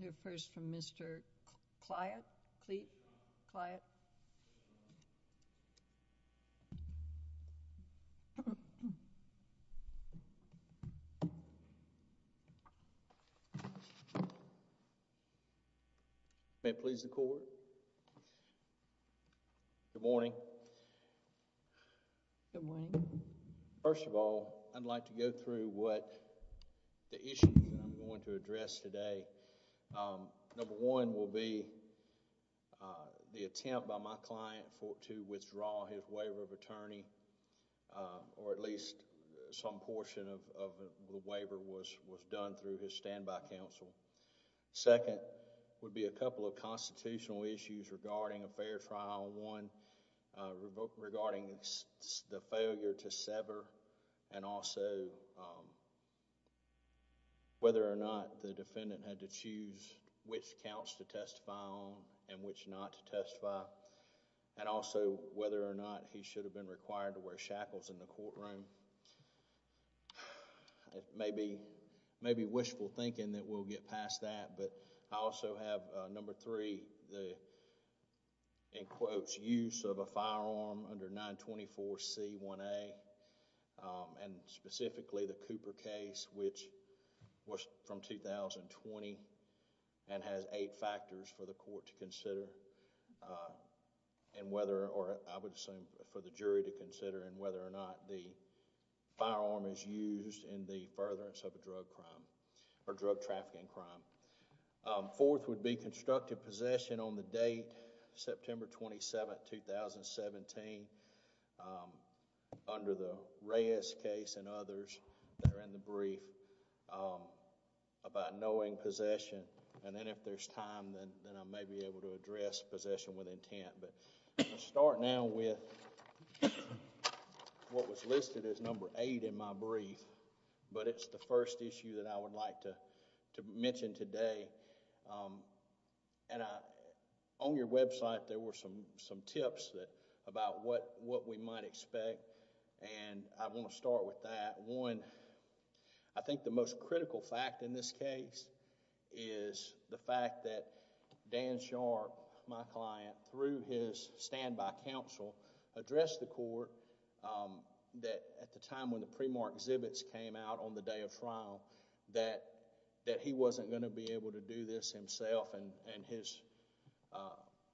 Here first from Mr. Cliott, Cleet, Cliott. May it please the court. Good morning. Good morning. First of all, I'd like to go through what the issues I'm going to address today. Number one will be the attempt by my client for to withdraw his waiver of attorney or at least some portion of the waiver was was done through his standby counsel. Second would be a couple of constitutional issues regarding a fair trial. One, regarding the failure to sever and also whether or not the defendant had to choose which counts to testify on and which not to testify and also whether or not he should have been required to wear shackles in the courtroom. Maybe, maybe wishful thinking that we'll get past that but I also have number three, the in quotes use of a firearm under 924 C1A and specifically the Cooper case which was from 2020 and has eight factors for the court to consider and whether or I would assume for the jury to consider and whether or not the firearm is used in the furtherance of a drug crime or drug trafficking crime. Fourth would be constructive possession on the date, September 27th, 2017 under the Reyes case and others that are in the brief about knowing possession and then if there's time then I may be able to address possession with intent but start now with what was listed as number eight in my brief but it's the first issue that I would like to mention today and I on your website there were some, some tips that, about what, what we might expect and I want to start with that. One, I think the most critical fact in this case is the fact that Dan Sharp, my client, through his standby counsel addressed the court that at the time when the pre-mark exhibits came out on the day of trial that, that he wasn't going to be able to do this himself and, and his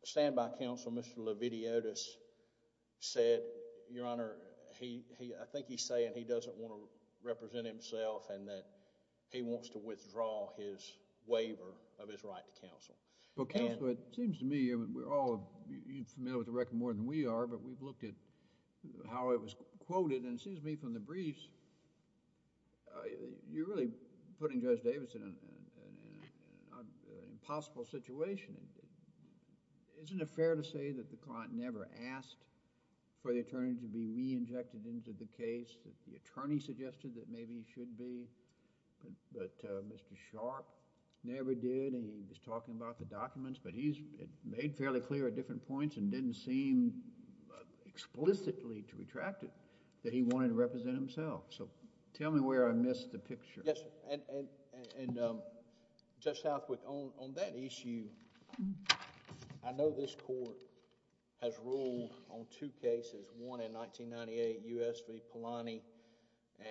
standby counsel, Mr. Leviti Otis said, your honor, he, he, I think he's saying he doesn't want to represent himself and that he wants to withdraw his waiver of his right to counsel. But counsel, it seems to me, we're all familiar with the record more than we are but we've looked at how it was quoted and it seems to me from the briefs you're really putting Judge Davidson in an impossible situation. Isn't it fair to say that the client never asked for the attorney to be re-injected into the case, that the attorney suggested that maybe he should be, but Mr. Sharp never did and he was talking about the documents, but he's made fairly clear at different points and didn't seem explicitly to retract it, that he wanted to represent himself. So tell me where I missed the picture. Yes, and, and, and Judge Southwick, on that issue, I know this court has ruled on two cases, one in 1998, U.S. v. Polanyi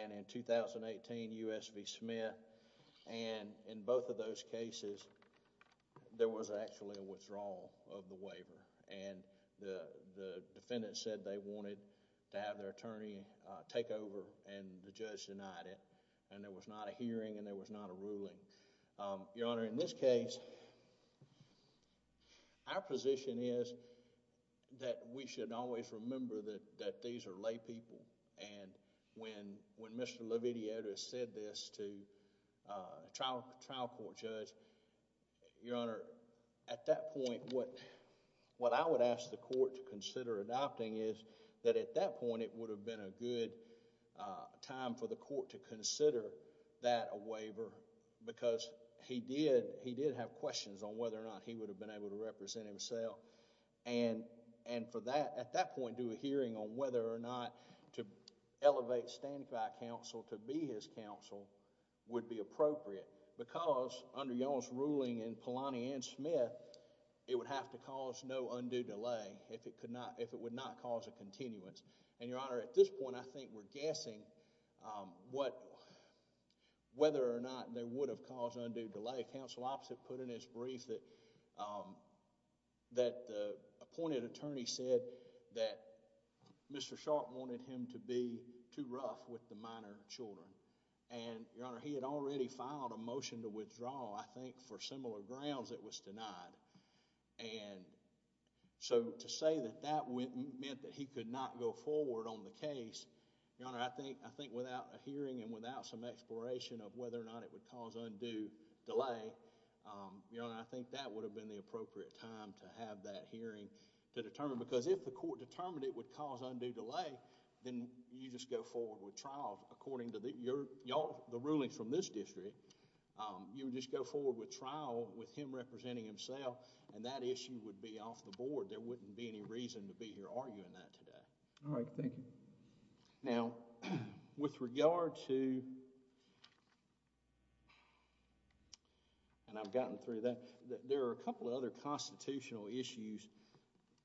and in 2018, U.S. v. Smith and in both of those cases, there was actually a withdrawal of the waiver and the defendant said they wanted to have their attorney take over and the judge denied it and there was not a hearing and there was not a ruling. Your Honor, in this case, our position is that we should always remember that, that these are lay people and when, when Mr. Levitiato has said this to a trial, trial court judge, Your Honor, at that point, what, what I would ask the court to consider adopting is that at that point, it would have been a good time for the court to consider that a waiver because he did, he did have questions on whether or not he would have been able to represent himself and, and for that, at that point, do a hearing on whether or not to elevate stand by counsel to be his counsel would be appropriate because under y'all's ruling in Polanyi and Smith, it would have to cause no undue delay if it could not, if it would not cause a continuance and, Your Honor, at this point, I think we're guessing what, whether or not they would have caused undue delay. Counsel opposite put in his brief that, that the appointed attorney said that Mr. Sharp wanted him to be too rough with the minor children and, Your Honor, he had already filed a motion to withdraw. I think for similar grounds, it was denied and so to say that that meant that he could not go forward on the case, Your Honor, I think, I think without a hearing and without some exploration of whether or not it would cause undue delay, Your Honor, I think that would have been the appropriate time to have that hearing to determine because if the court determined it would cause undue delay, then you just go forward with trial according to the, your, your, the rulings from this district. You just go forward with trial with him representing himself and that issue would be off the board. There wouldn't be any reason to be here arguing that today. All right. Thank you. Now, with regard to and I've gotten through that, that there are a couple of other constitutional issues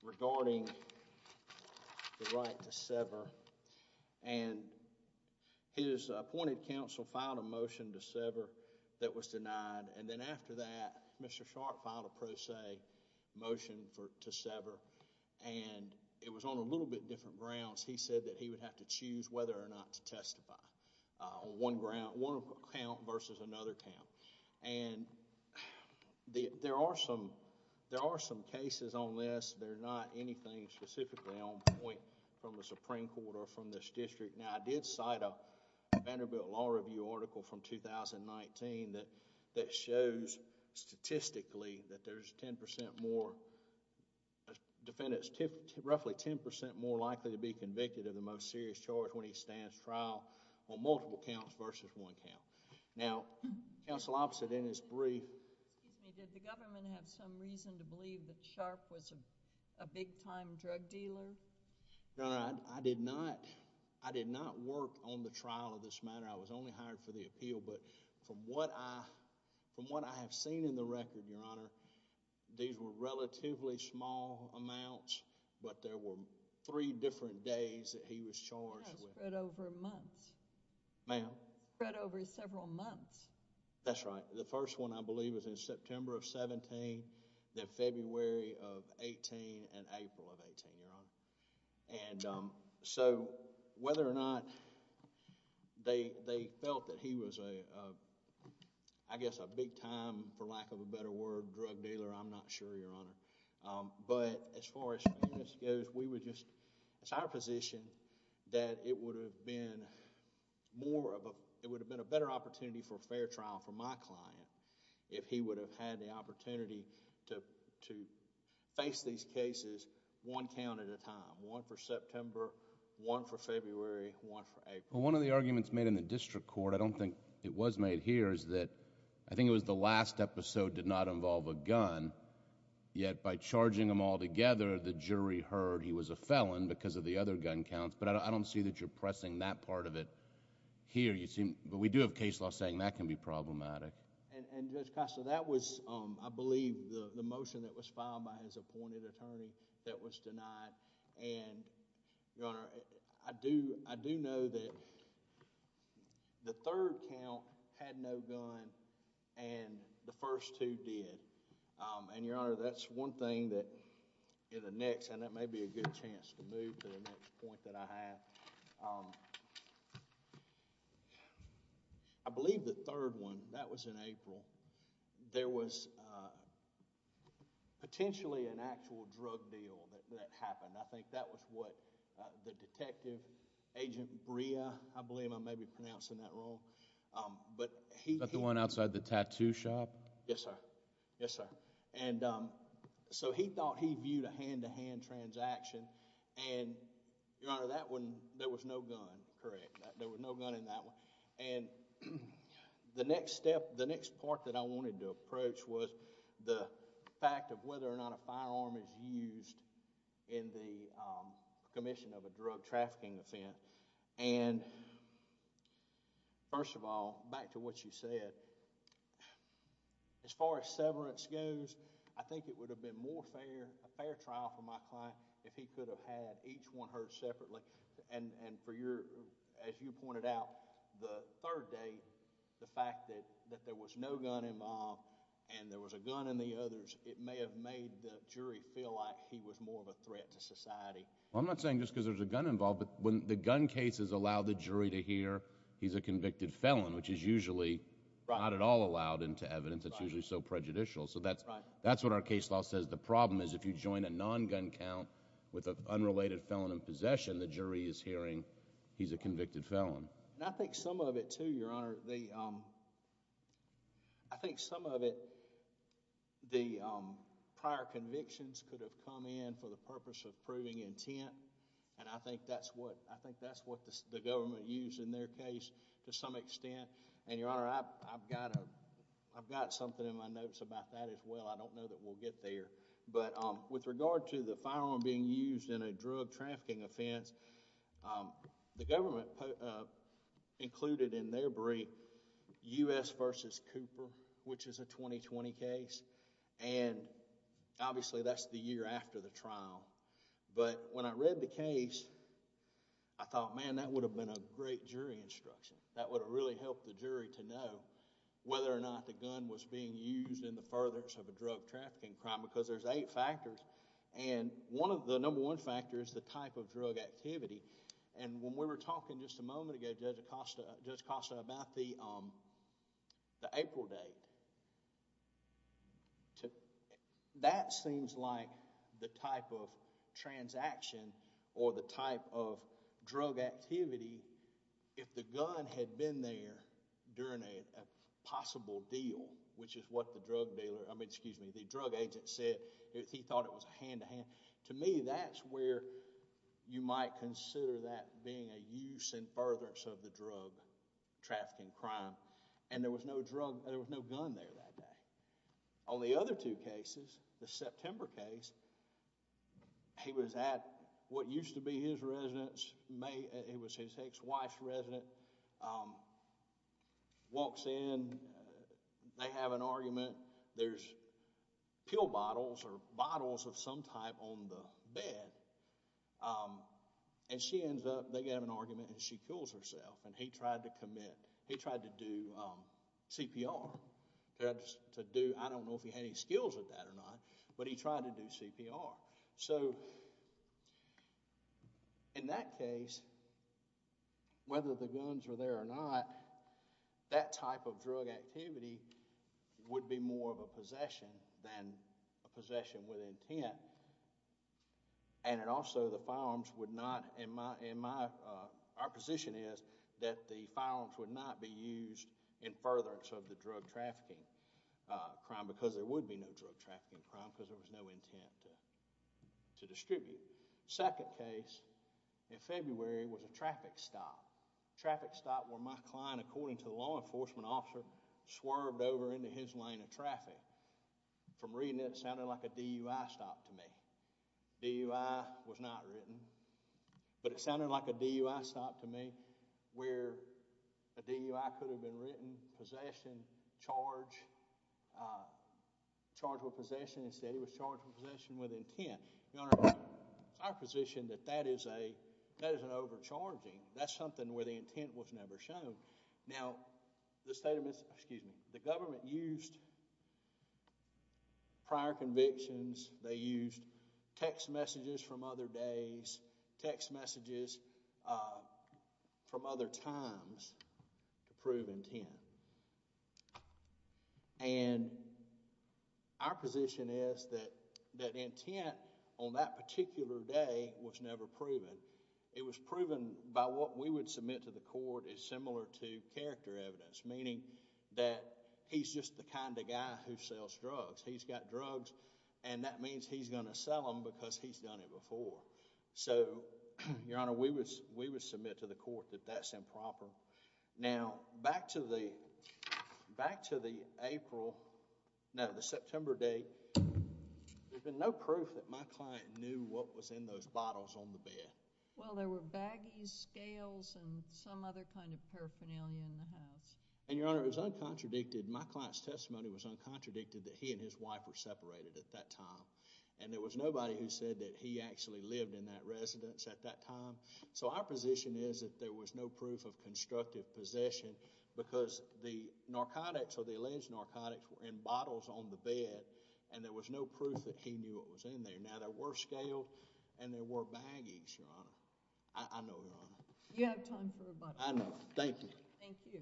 regarding the right to sever and his appointed counsel filed a motion to sever that was denied and then after that, Mr. Sharp filed a pro se motion for, to sever and it was on a little bit different grounds. He said that he would have to choose whether or not to testify on one ground, one count versus another count and the, there are some, there are some cases on this. They're not anything specifically on point from the Supreme Court or from this district. Now, I did cite a Vanderbilt Law Review article from 2019 that, that shows statistically that there's 10% more, defendants, roughly 10% more likely to be convicted of the most serious charge when he stands trial on multiple counts versus one count. Now, counsel opposite in his brief. Did the government have some reason to believe that Sharp was a big-time drug dealer? No, I did not. I did not work on the trial of this matter. I was only hired for the appeal, but from what I, from what I have seen in the record, Your Honor, these were relatively small amounts, but there were three different days that he was charged with. Spread over months. Ma'am? Spread over several months. That's right. The first one, I believe, was in September of 17, then February of 18, and April of 18, Your Honor. And so, whether or not they, they felt that he was a, I guess a big-time, for lack of a better word, drug dealer, I'm not sure, Your Honor. But, as far as fairness goes, we would just, it's our position that it would have been more of a, it would have been a better opportunity for a fair trial for my client if he would have had the opportunity to, to face these cases one count at a time. One for September, one for February, one for April. Well, one of the arguments made in the district court, I don't think it was made here, is that I think it was the last episode did not involve a gun, yet by charging them all together, the jury heard he was a felon because of the other gun counts, but I don't see that you're pressing that part of it here. You seem, but we do have case law saying that can be problematic. And, Judge Costa, that was, I believe, the motion that was filed by his appointed attorney that was denied. And, Your Honor, I do, I do know that the third count had no gun and the first two did. And, Your Honor, that's one thing that in the next, and that may be a good chance to move to the next point that I have. I believe the third one, that was in April, there was potentially an actual drug deal that happened. I think that was what the detective, Agent Brea, I believe I may be pronouncing that wrong, but he, The one outside the tattoo shop? Yes, sir. Yes, sir. And so he thought he viewed a hand-to-hand transaction and, Your Honor, that one, there was no gun. Correct. There was no gun in that one. And the next step, the next part that I wanted to approach was the fact of whether or not a firearm is used in the commission of a drug trafficking offense. And first of all, back to what you said, as far as severance goes, I think it would have been more fair, a fair trial for my client if he could have had each one hurt separately. And for your, as you pointed out, the third date, the fact that there was no gun involved and there was a gun in the others, it may have made the jury feel like he was more of a threat to society. I'm not saying just because there's a gun involved, but when the gun cases allow the jury to hear he's a convicted felon, which is usually not at all allowed into evidence. It's usually so prejudicial. So that's what our case law says. The problem is if you join a non-gun count with an unrelated felon in possession, the jury is hearing he's a convicted felon. And I think some of it, too, Your Honor, I think some of it, the prior convictions could have come in for the purpose of proving intent. And I think that's what, I think that's what the government used in their case to some extent. And Your Honor, I've got a, I've got something in my notes about that as well. I don't know that we'll get there. But with regard to the firearm being used in a drug trafficking offense, the government included in their brief U.S. versus Cooper, which is a 2020 case. And obviously that's the year after the trial. But when I read the case, I thought, man, that would have been a great jury instruction. That would have really helped the jury to know whether or not the gun was being used in the furthest of a drug trafficking crime because there's eight factors. And one of the number one factor is the type of drug activity. And when we were talking just a moment ago, Judge Acosta, Judge Acosta, about the the April date, that seems like the type of transaction or the type of drug activity if the gun had been there during a possible deal, which is what the drug dealer, I mean, excuse me, the drug agent said, he thought it was a hand-to-hand. To me, that's where you might consider that being a use in furtherance of the drug trafficking crime. And there was no gun there that day. On the other two cases, the September case, he was at what used to be his residence, it was his ex-wife's residence, walks in, they have an argument, there's pill bottles or bottles of some type on the bed. And she ends up, they have an argument and she kills herself. And he tried to commit, he tried to do CPR. That's to do, I don't know if he had any skills with that or not, but he tried to do CPR. So in that case, whether the guns were there or not, that type of drug activity would be more of a possession than a possession with intent. And it also, the firearms would not, in my, our position is that the firearms would not be used in furtherance of the drug trafficking crime because there would be no drug trafficking crime because there was no intent to distribute. Second case, in February, was a traffic stop. Traffic stop where my client, according to the law enforcement officer, swerved over into his lane of traffic. From reading it, it sounded like a DUI stop to me. DUI was not written. But it sounded like a DUI stop to me where a DUI could have been written, possession, charge, charged with possession. Instead, he was charged with possession with intent. Your Honor, it's our position that that is a, that is an overcharging. That's something where the intent was never shown. Now, the state of Mississippi, excuse me, the government used prior convictions. They used text messages from other days, text messages from other times to prove intent. And our position is that, that intent on that particular day was never proven. It was proven by what we would submit to the court is similar to character evidence, meaning that he's just the kind of guy who sells drugs. He's got drugs and that means he's going to sell them because he's done it before. So, Your Honor, we would, we would submit to the court that that's improper. Now, back to the, back to the April, no, the September day, there's been no proof that my client knew what was in those bottles on the bed. Well, there were baggies, scales, and some other kind of paraphernalia in the house. And Your Honor, it was uncontradicted, my client's testimony was uncontradicted that he and his wife were separated at that time. And there was nobody who said that he actually lived in that residence at that time. So, our position is that there was no proof of constructive possession because the narcotics or the alleged narcotics were in bottles on the bed and there was no proof that he knew what was in there. Now, there were scales and there were baggies, Your Honor. I know, Your Honor. You have time for a bottle. I know. Thank you. Thank you.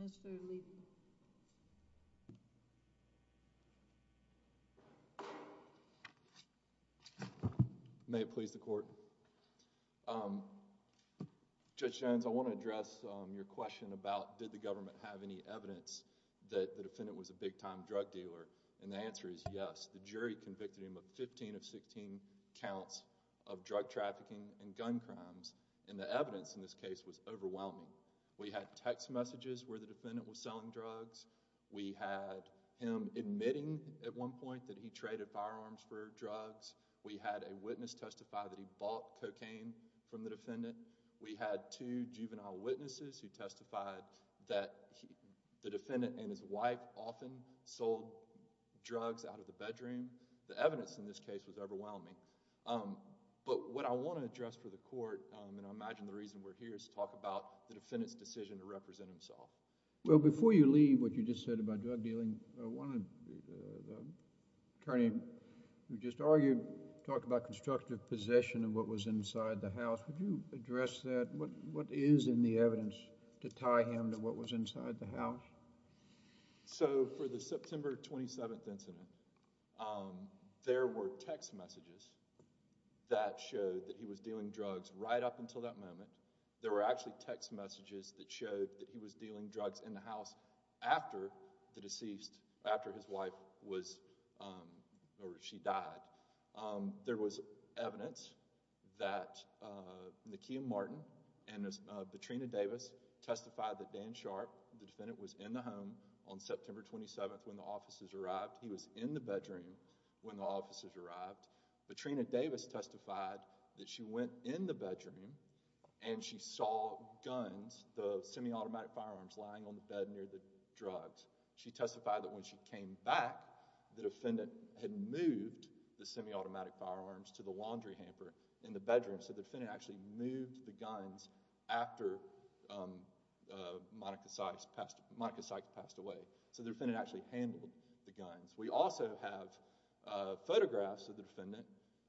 Mr. Lee. May it please the Court. Judge Jones, I want to address your question about did the government have any evidence that the defendant was a big-time drug dealer? And the answer is yes. The jury convicted him of 15 of 16 counts of drug trafficking and gun crimes. And the evidence in this case was overwhelming. We had text messages where the defendant was selling drugs. We had him admitting at one point that he traded firearms for drugs. We had a witness testify that he bought cocaine from the defendant. We had two juvenile witnesses who testified that the defendant and his wife often sold drugs out of the bedroom. The evidence in this case was overwhelming. But what I want to address for the Court, and I imagine the reason we're here, is to talk about the defendant's decision to represent himself. Well, before you leave, what you just said about drug dealing, I wanted the attorney who just argued, talk about constructive possession of what was inside the house. Would you address that? What is in the evidence to tie him to what was inside the house? So, for the September 27th incident, there were text messages that showed that he was dealing drugs right up until that moment. There were actually text messages that showed that he was dealing drugs in the house after the deceased, after his wife was, or she died. There was evidence that Nakia Martin and Betrina Davis testified that Dan Sharp, the defendant, was in the home on September 27th when the officers arrived. He was in the bedroom when the officers arrived. Betrina Davis testified that she went in the bedroom and she saw guns, the semiautomatic firearms, lying on the bed near the drugs. She testified that when she came back, the defendant had moved the semiautomatic firearms to the laundry hamper in the bedroom. So, the defendant actually moved the guns after Monica Sykes passed away. So, the defendant actually handled the guns. We also have photographs of the defendant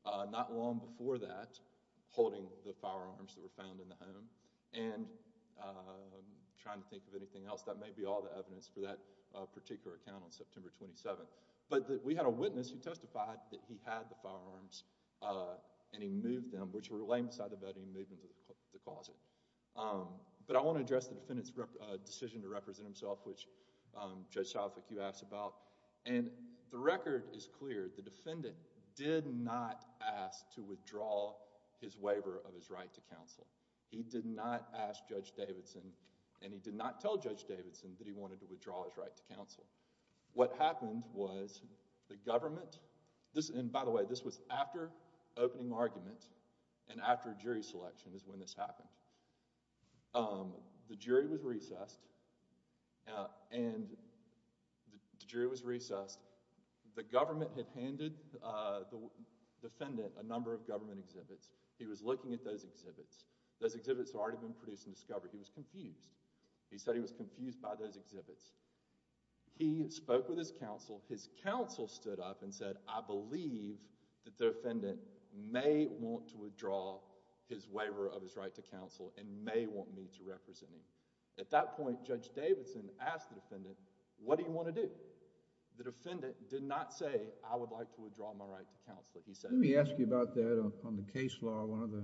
not long before that holding the firearms that were found in the home and trying to think of anything else. That may be all the evidence for that particular account on September 27th. But, I want to address the defendant's decision to represent himself, which Judge Salfik, you asked about, and the record is clear. The defendant did not ask to withdraw his waiver of his right to counsel. He did not ask Judge Davidson and he did not tell Judge Davidson that he wanted to withdraw his right to counsel. What happened was the government, and by the way, this was after opening argument and after jury selection is when this happened. The jury was recessed and the jury was recessed. The government had handed the defendant a number of government exhibits. He was looking at those exhibits. Those exhibits had already been produced and discovered. He was confused. He said he was confused by those exhibits. He spoke with his counsel. His counsel stood up and said, I believe that the defendant may want to withdraw his waiver of his right to counsel and may want me to represent him. At that point, Judge Davidson asked the defendant, what do you want to do? The defendant did not say, I would like to withdraw my right to counsel. He said... Let me ask you about that on the case law. One of the...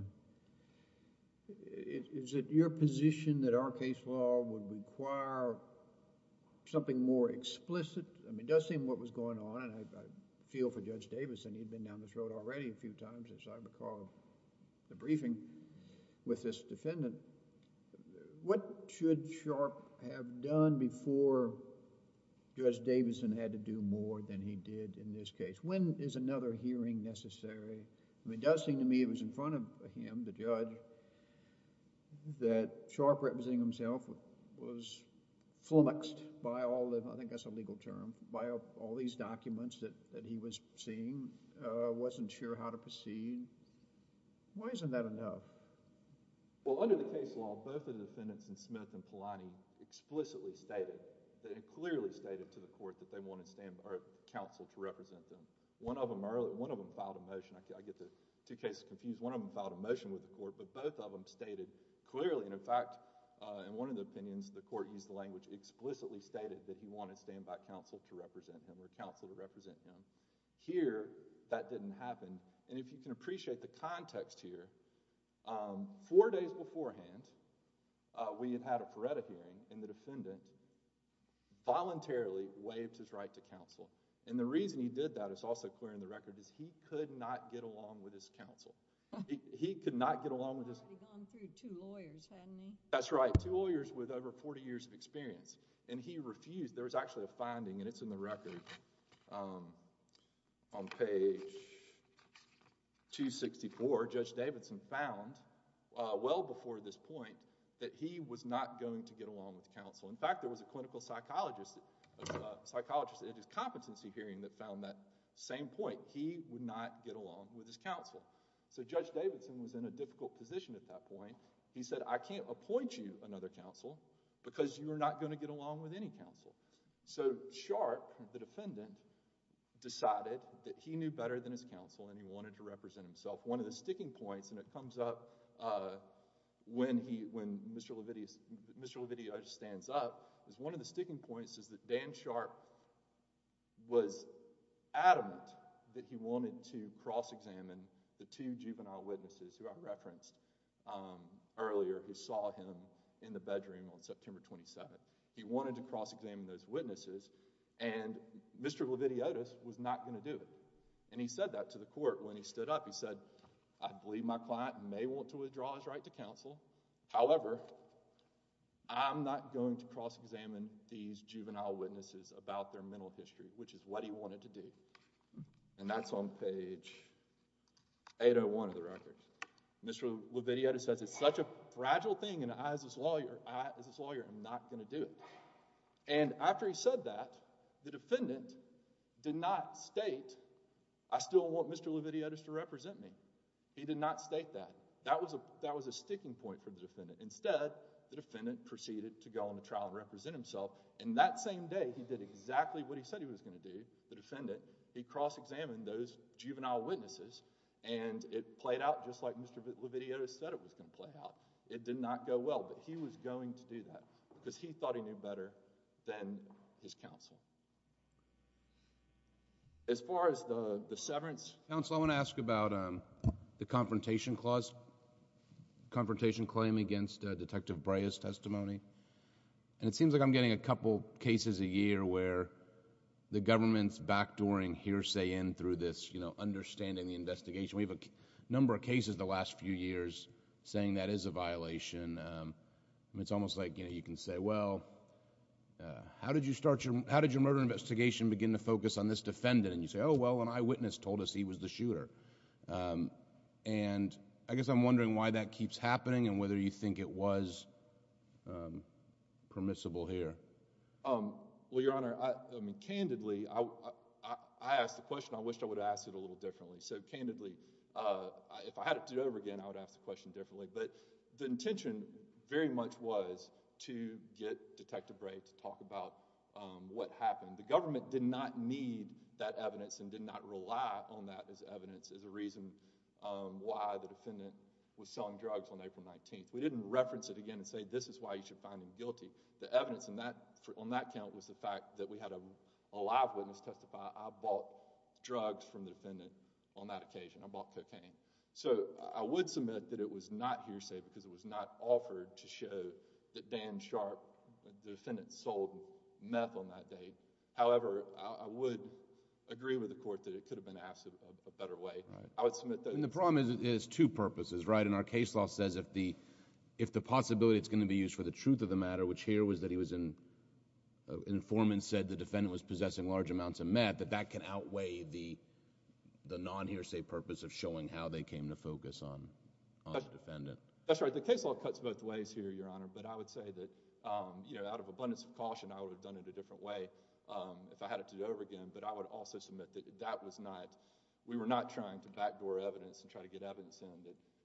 Is it your position that our case law would require something more explicit? It does seem what was going on, and I feel for Judge Davidson, he'd been down this road already a few times as I recall the briefing with this defendant. What should Sharpe have done before Judge Davidson had to do more than he did in this case? When is another hearing necessary? It does seem to me it was in front of him, the judge, that Sharpe representing himself was flummoxed by all the... by all these documents that he was seeing, wasn't sure how to proceed. Why isn't that enough? Well, under the case law, both of the defendants in Smith and Polanyi explicitly stated, they clearly stated to the court that they want to stand... or counsel to represent them. One of them filed a motion. I get the two cases confused. One of them filed a motion with the court, but both of them stated explicitly stated that he wanted to stand by counsel to represent him or counsel to represent him. Here, that didn't happen. And if you can appreciate the context here, four days beforehand, we had had a Paretta hearing and the defendant voluntarily waived his right to counsel. And the reason he did that is also clear in the record is he could not get along with his counsel. He could not get along with his... He'd gone through two lawyers, hadn't he? That's right. Two lawyers with over 40 years of experience and he refused. There was actually a finding and it's in the record. On page 264, Judge Davidson found well before this point that he was not going to get along with counsel. In fact, there was a clinical psychologist, a psychologist at his competency hearing that found that same point. He would not get along with his counsel. So Judge Davidson was in a difficult position at that point. He said, I can't appoint you another counsel because you are not going to get along with any counsel. So Sharp, the defendant, decided that he knew better than his counsel and he wanted to represent himself. One of the sticking points, and it comes up when he, when Mr. Levitius, Mr. Levitius stands up, is one of the sticking points is that Dan Sharp was adamant that he wanted to cross-examine the two earlier who saw him in the bedroom on September 27th. He wanted to cross-examine those witnesses and Mr. Levitius was not going to do it. And he said that to the court when he stood up. He said, I believe my client may want to withdraw his right to counsel. However, I'm not going to cross-examine these juvenile witnesses about their mental history, which is what he wanted to do. And that's on page 801 of the record. Mr. Levitius says, it's such a fragile thing and I, as his lawyer, I, as his lawyer, am not going to do it. And after he said that, the defendant did not state, I still want Mr. Levitius to represent me. He did not state that. That was a, that was a sticking point for the defendant. Instead, the defendant proceeded to go on the trial and represent himself and that same day, he did exactly what he said he was going to do, the defendant. He cross-examined those juvenile witnesses and it played out just like Mr. Levitius said it was going to play out. It did not go well, but he was going to do that because he thought he knew better than his counsel. As far as the severance. Counsel, I want to ask about the confrontation clause, confrontation claim against Detective Brey's testimony. And it seems like I'm getting a couple cases a year where the government's backdooring hearsay in through this, you know, understanding the investigation. We have a number of cases the last few years saying that is a violation. It's almost like, you know, you can say, well, how did you start your, how did your murder investigation begin to focus on this defendant? And you say, oh, well, an eyewitness told us he was the shooter. And I guess I'm wondering why that keeps happening and whether you think it was permissible here. Well, Your Honor, I mean, candidly, I asked the question. I wish I would have asked it a little differently. So candidly, if I had to do it over again, I would ask the question differently. But the intention very much was to get Detective Brey to talk about what happened. The government did not need that evidence and did not rely on that as evidence as a reason why the defendant was selling drugs on April 19th. We didn't reference it again and say this is why you should find him guilty. The evidence on that count was the fact that we had a live witness testify, I bought drugs from the defendant on that occasion. I bought cocaine. So I would submit that it was not hearsay because it was not offered to show that Dan Sharp, the defendant, sold meth on that day. However, I would agree with the court that it could have been asked in a better way. I would submit that... And the problem is two purposes, right? And our case law says if the possibility is going to be used for the purpose of showing how they came to focus on the defendant. That's right. The case law cuts both ways here, Your Honor, but I would say that, you know, out of abundance of caution, I would have done it a different way if I had it to do over again. But I would also submit that that was not... We were not trying to backdoor evidence and try to get evidence in.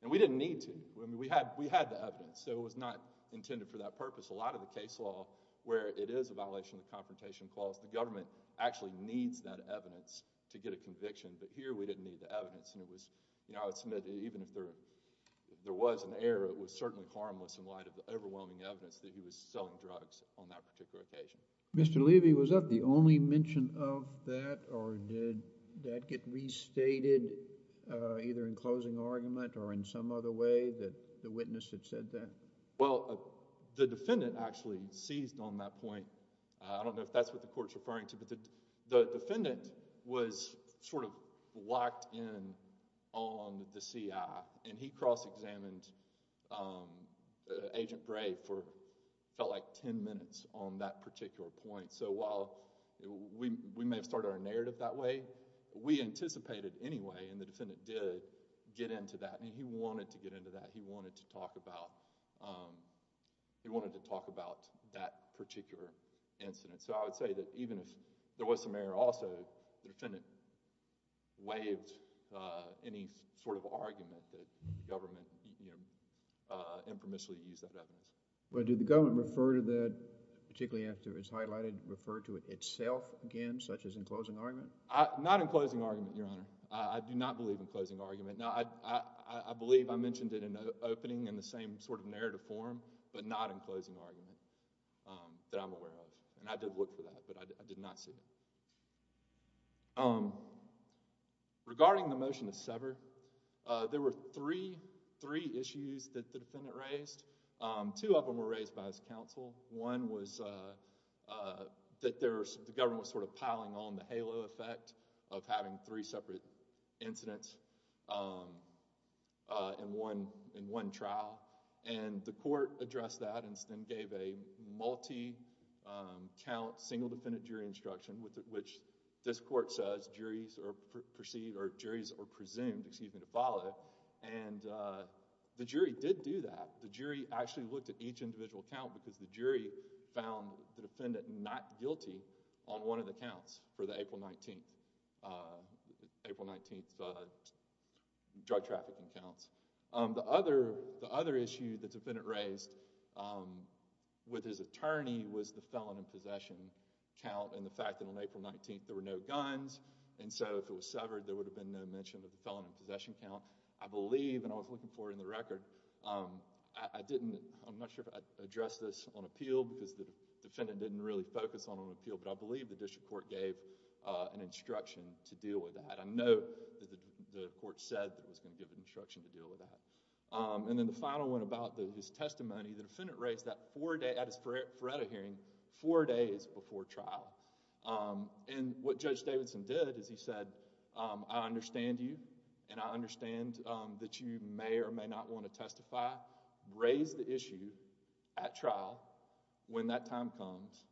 And we didn't need to. I mean, we had the evidence. So I would submit that it was not intended for that purpose. The case law, where it is a violation of the Confrontation Clause, the government actually needs that evidence to get a conviction. But here, we didn't need the evidence. And it was, you know, I would submit that even if there was an error, it was certainly harmless in light of the overwhelming evidence that he was selling drugs on that particular occasion. Mr. Levy, was that the only mention of that? Or did that get restated either in closing argument or in some other way that the witness had said that? Well, the defendant actually seized on that point. I don't know if that's what the court is referring to. But the defendant was sort of locked in on the CI. And he cross-examined Agent Gray for, it felt like, ten minutes on that particular point. So while we may have started our narrative that way, we anticipated anyway, and the defendant did, get into that. And he wanted to get into that. He wanted to talk about, he wanted to talk about that particular incident. So I would say that even if there was some error also, the defendant waived any sort of argument that the government, you know, informationally used that evidence. Well, did the government refer to that, particularly after it was highlighted, refer to it itself again, such as in closing argument? Not in closing argument, Your Honor. I do not believe in closing argument. Now, I believe I mentioned it in the opening in the same sort of narrative form, but not in closing argument that I'm aware of. And I did look for that, but I did not see it. Regarding the motion to sever, there were three issues that the defendant raised. Two of them were raised by his counsel. One was that the government was sort of piling on the halo effect of having three separate incidents in one trial. And the court addressed that and then gave a multi-count, single-defendant jury instruction, which this court says juries are perceived, or juries are presumed, excuse me, to follow. And the jury did do that. The jury actually looked at each individual count because the jury found the defendant not guilty on one of the counts for the April 19th drug trafficking counts. The other issue the defendant raised with his attorney was the felon in possession count and the fact that on April 19th there were no guns, and so if it was severed, there would have been no mention of the felon in possession count. I believe, and I was looking for it in the record, I'm not sure if I addressed this on appeal because the defendant didn't really focus on it on appeal, but I believe the district court gave an instruction to deal with that. I know that the court said it was going to give an instruction to deal with that. And then the final one about his testimony, the defendant raised that at his Faretto hearing four days before trial. And what Judge Davidson did is he said, I understand you and I understand that you may or may not want to testify. Raise the issue at trial when that time comes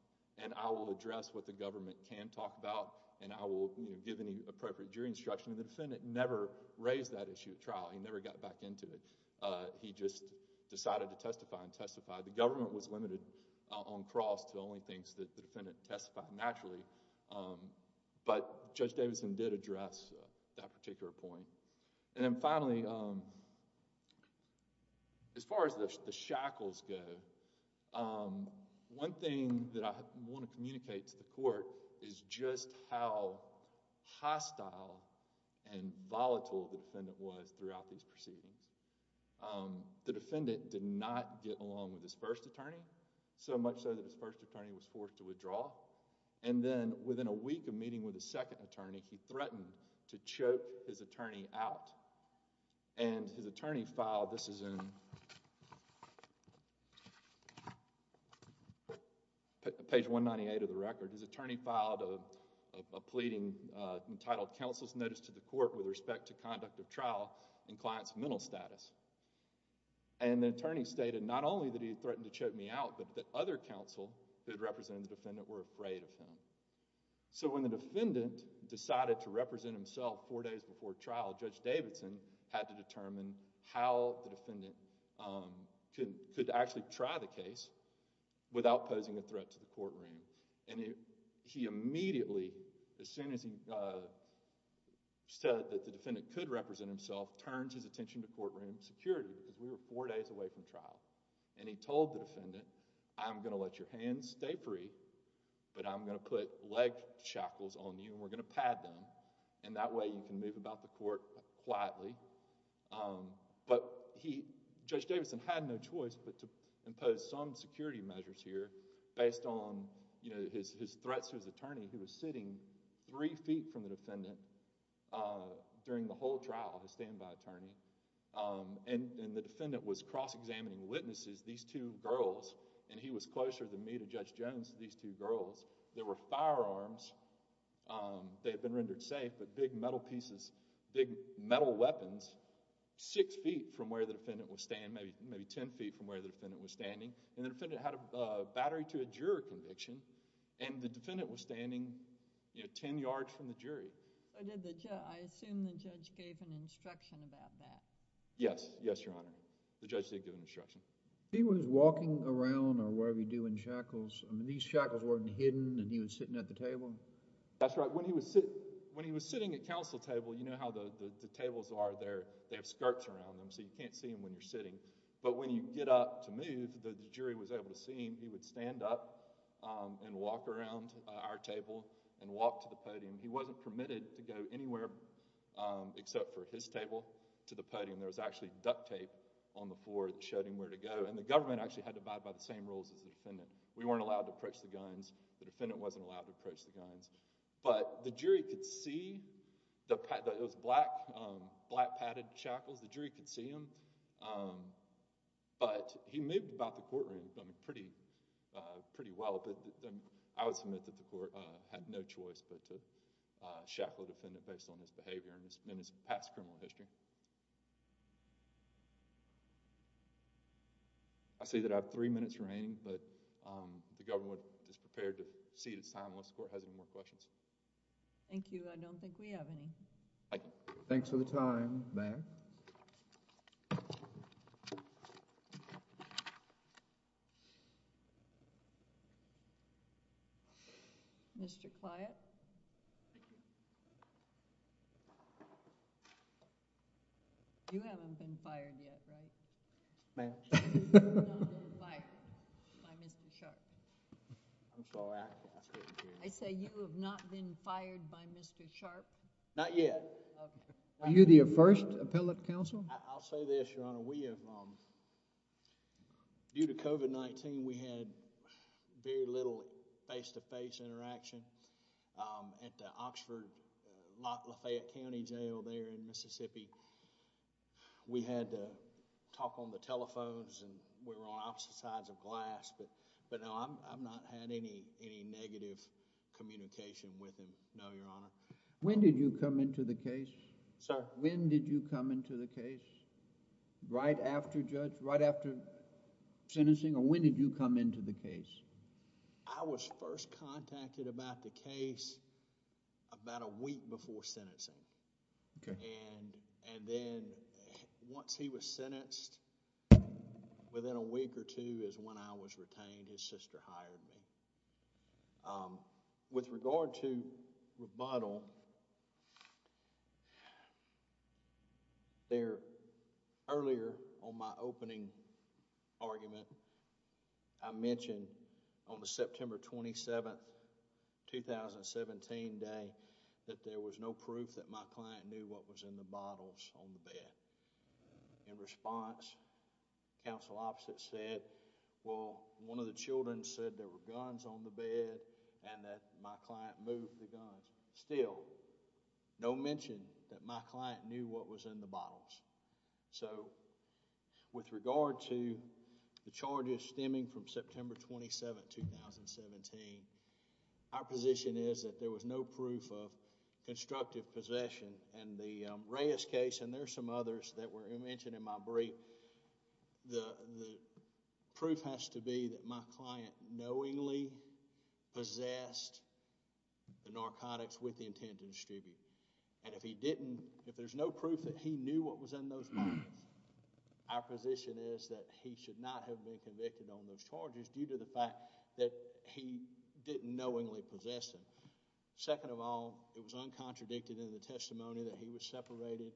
and I will address what the government can talk about and I will give any appropriate jury instruction. And the defendant never raised that issue at trial. He never got back into it. He just decided to testify and testify. The government was limited on cross to only things that the defendant testified naturally. But Judge Davidson did address that particular point. And then finally, as far as the shackles go, one thing that I want to communicate to the court is just how hostile and volatile the defendant was throughout these proceedings. The defendant did not get along with his first attorney, so much so that his first attorney was forced to withdraw. And then within a week of meeting with his second attorney, he threatened to choke his attorney out. And his attorney filed, this is in page 198 of the record, his attorney filed a pleading entitled Counsel's Notice to the Court with Respect to Conduct of Trial in Client's Mental Status. And the attorney stated not only that he threatened to choke me out, but that other counsel who had represented the defendant were afraid of him. So when the defendant decided to represent himself four days before trial, Judge Davidson had to determine how the defendant could actually try the case without posing a threat to the courtroom. And he immediately, as soon as he said that the defendant could represent himself, turned his attention to courtroom security because we were four days away from trial. And he told the defendant, I'm going to let your hands stay free, but I'm going to put leg shackles on you and we're going to pad them, and that way you can move about the court quietly. But Judge Davidson had no choice but to impose some security measures here based on his threats to his attorney, who was sitting three feet from the defendant during the whole trial, his standby attorney. And the defendant was cross-examining witnesses, these two girls, and he was closer than me to Judge Jones to these two girls. There were firearms, they had been rendered safe, but big metal pieces, big metal weapons, six feet from where the defendant was standing, maybe ten feet from where the defendant was standing. And the defendant had a battery to a juror conviction, and the defendant was standing ten yards from the jury. I assume the judge gave an instruction about that. Yes, yes, Your Honor. The judge did give an instruction. He was walking around or whatever you do in shackles. I mean, these shackles weren't hidden and he was sitting at the table? That's right. When he was sitting at counsel table, you know how the tables are, they have skirts around them, so you can't see them when you're sitting. But when you get up to move, the jury was able to see him. He would stand up and walk around our table and walk to the podium. He wasn't permitted to go anywhere except for his table to the podium. There was actually duct tape on the floor that showed him where to go. And the government actually had to abide by the same rules as the defendant. We weren't allowed to approach the guns. The defendant wasn't allowed to approach the guns. But the jury could see those black padded shackles. The jury could see them. But he moved about the courtroom pretty well. But I would submit that the court had no choice but to shackle the defendant based on his behavior and his past criminal history. I see that I have three minutes remaining, but the government is prepared to cede its time unless the court has any more questions. Thank you. I don't think we have any. Thanks for the time, ma'am. Thank you. Mr. Cliatt? You haven't been fired yet, right? Ma'am? You have not been fired by Mr. Sharp. I'm sorry. I say you have not been fired by Mr. Sharp. Not yet. Are you the first appellate counsel? I'll say this, Your Honor. We have, due to COVID-19, we had very little face-to-face interaction at the Oxford Lafayette County Jail there in Mississippi. We had to talk on the telephones, and we were on opposite sides of glass. But no, I've not had any negative communication with him, no, Your Honor. When did you come into the case? Sir? When did you come into the case? Right after, Judge, right after sentencing, or when did you come into the case? I was first contacted about the case about a week before sentencing. Okay. And then, once he was sentenced, within a week or two is when I was retained. His sister hired me. With regard to rebuttal, earlier on my opening argument, I mentioned on the September 27, 2017 day that there was no proof that my client knew what was in the bottles on the bed. In response, counsel opposite said, well, one of the children said there were guns on the bed and that my client moved the guns. Still, no mention that my client knew what was in the bottles. So with regard to the charges stemming from September 27, 2017, our position is that there was no proof of constructive possession. In the Reyes case, and there are some others that were mentioned in my brief, the proof has to be that my client knowingly possessed the narcotics with the intent to distribute. If there's no proof that he knew what was in those bottles, our position is that he should not have been convicted on those charges due to the fact that he didn't knowingly possess them. Second of all, it was uncontradicted in the testimony that he was separated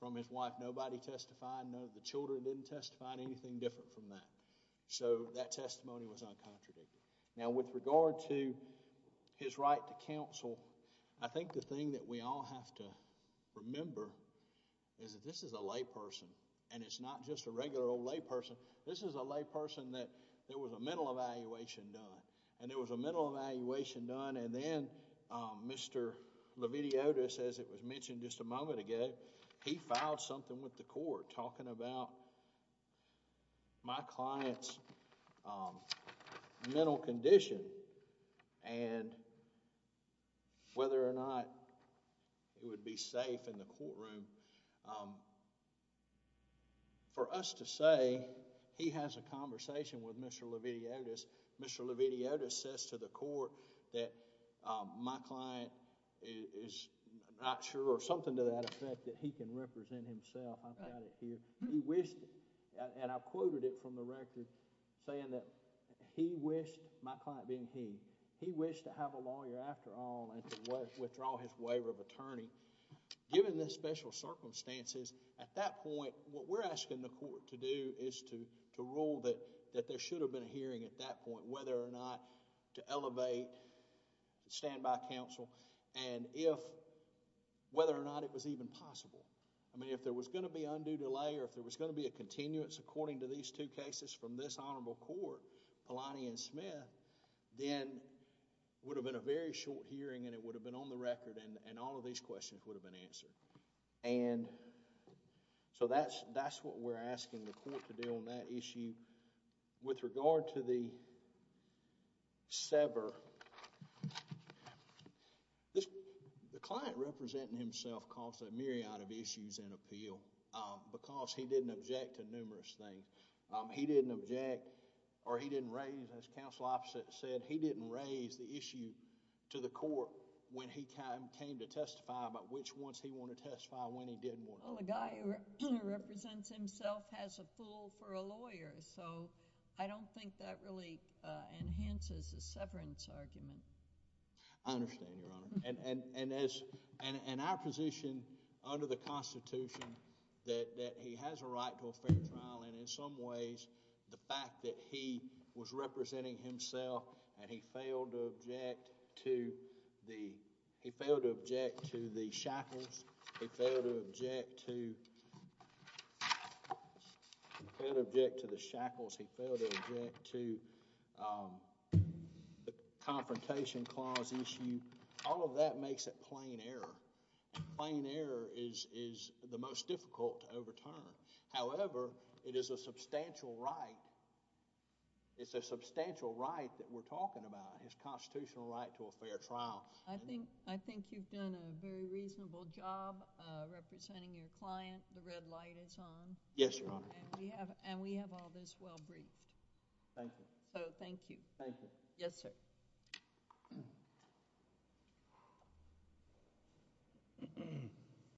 from his wife. Nobody testified. None of the children didn't testify on anything different from that. So that testimony was uncontradicted. Now, with regard to his right to counsel, I think the thing that we all have to remember is that this is a layperson. And it's not just a regular old layperson. This is a layperson that there was a mental evaluation done. And there was a mental evaluation done. And then Mr. Leviti Otis, as it was mentioned just a moment ago, he filed something with the court talking about my client's mental condition and whether or not it would be safe in the courtroom. For us to say he has a conversation with Mr. Leviti Otis, Mr. Leviti Otis says to the court that my client is not sure or something to that effect that he can represent himself. I've got it here. And I've quoted it from the record saying that he wished, my client being he, he wished to have a lawyer after all and to withdraw his waiver of attorney. Given the special circumstances, at that point, what we're asking the court to do is to rule that there should have been a hearing at that point, whether or not to elevate standby counsel, and whether or not it was even possible. If there was going to be undue delay or if there was going to be a continuance according to these two cases from this honorable court, Palani and Smith, then it would have been a very short hearing and it would have been on the record and all of these questions would have been answered. So that's what we're asking the court to do on that issue. With regard to the sever, the client representing himself caused a myriad of issues in appeal because he didn't object to numerous things. He didn't object or he didn't raise, as counsel opposite said, he didn't raise the issue to the court when he came to testify about which ones he wanted to testify when he did want to. Well, a guy who represents himself has a fool for a lawyer. So I don't think that really enhances the severance argument. I understand, Your Honor. And in our position under the Constitution that he has a right to a fair trial and in some ways the fact that he was representing himself and he failed to object to the shackles, he failed to object to the shackles, he failed to object to the confrontation clause issue, all of that makes it plain error. Plain error is the most difficult to overturn. However, it is a substantial right. It's a substantial right that we're talking about. It's a constitutional right to a fair trial. Well, I think you've done a very reasonable job representing your client. The red light is on. Yes, Your Honor. And we have all this well briefed. Thank you. So thank you. Thank you. Yes, sir.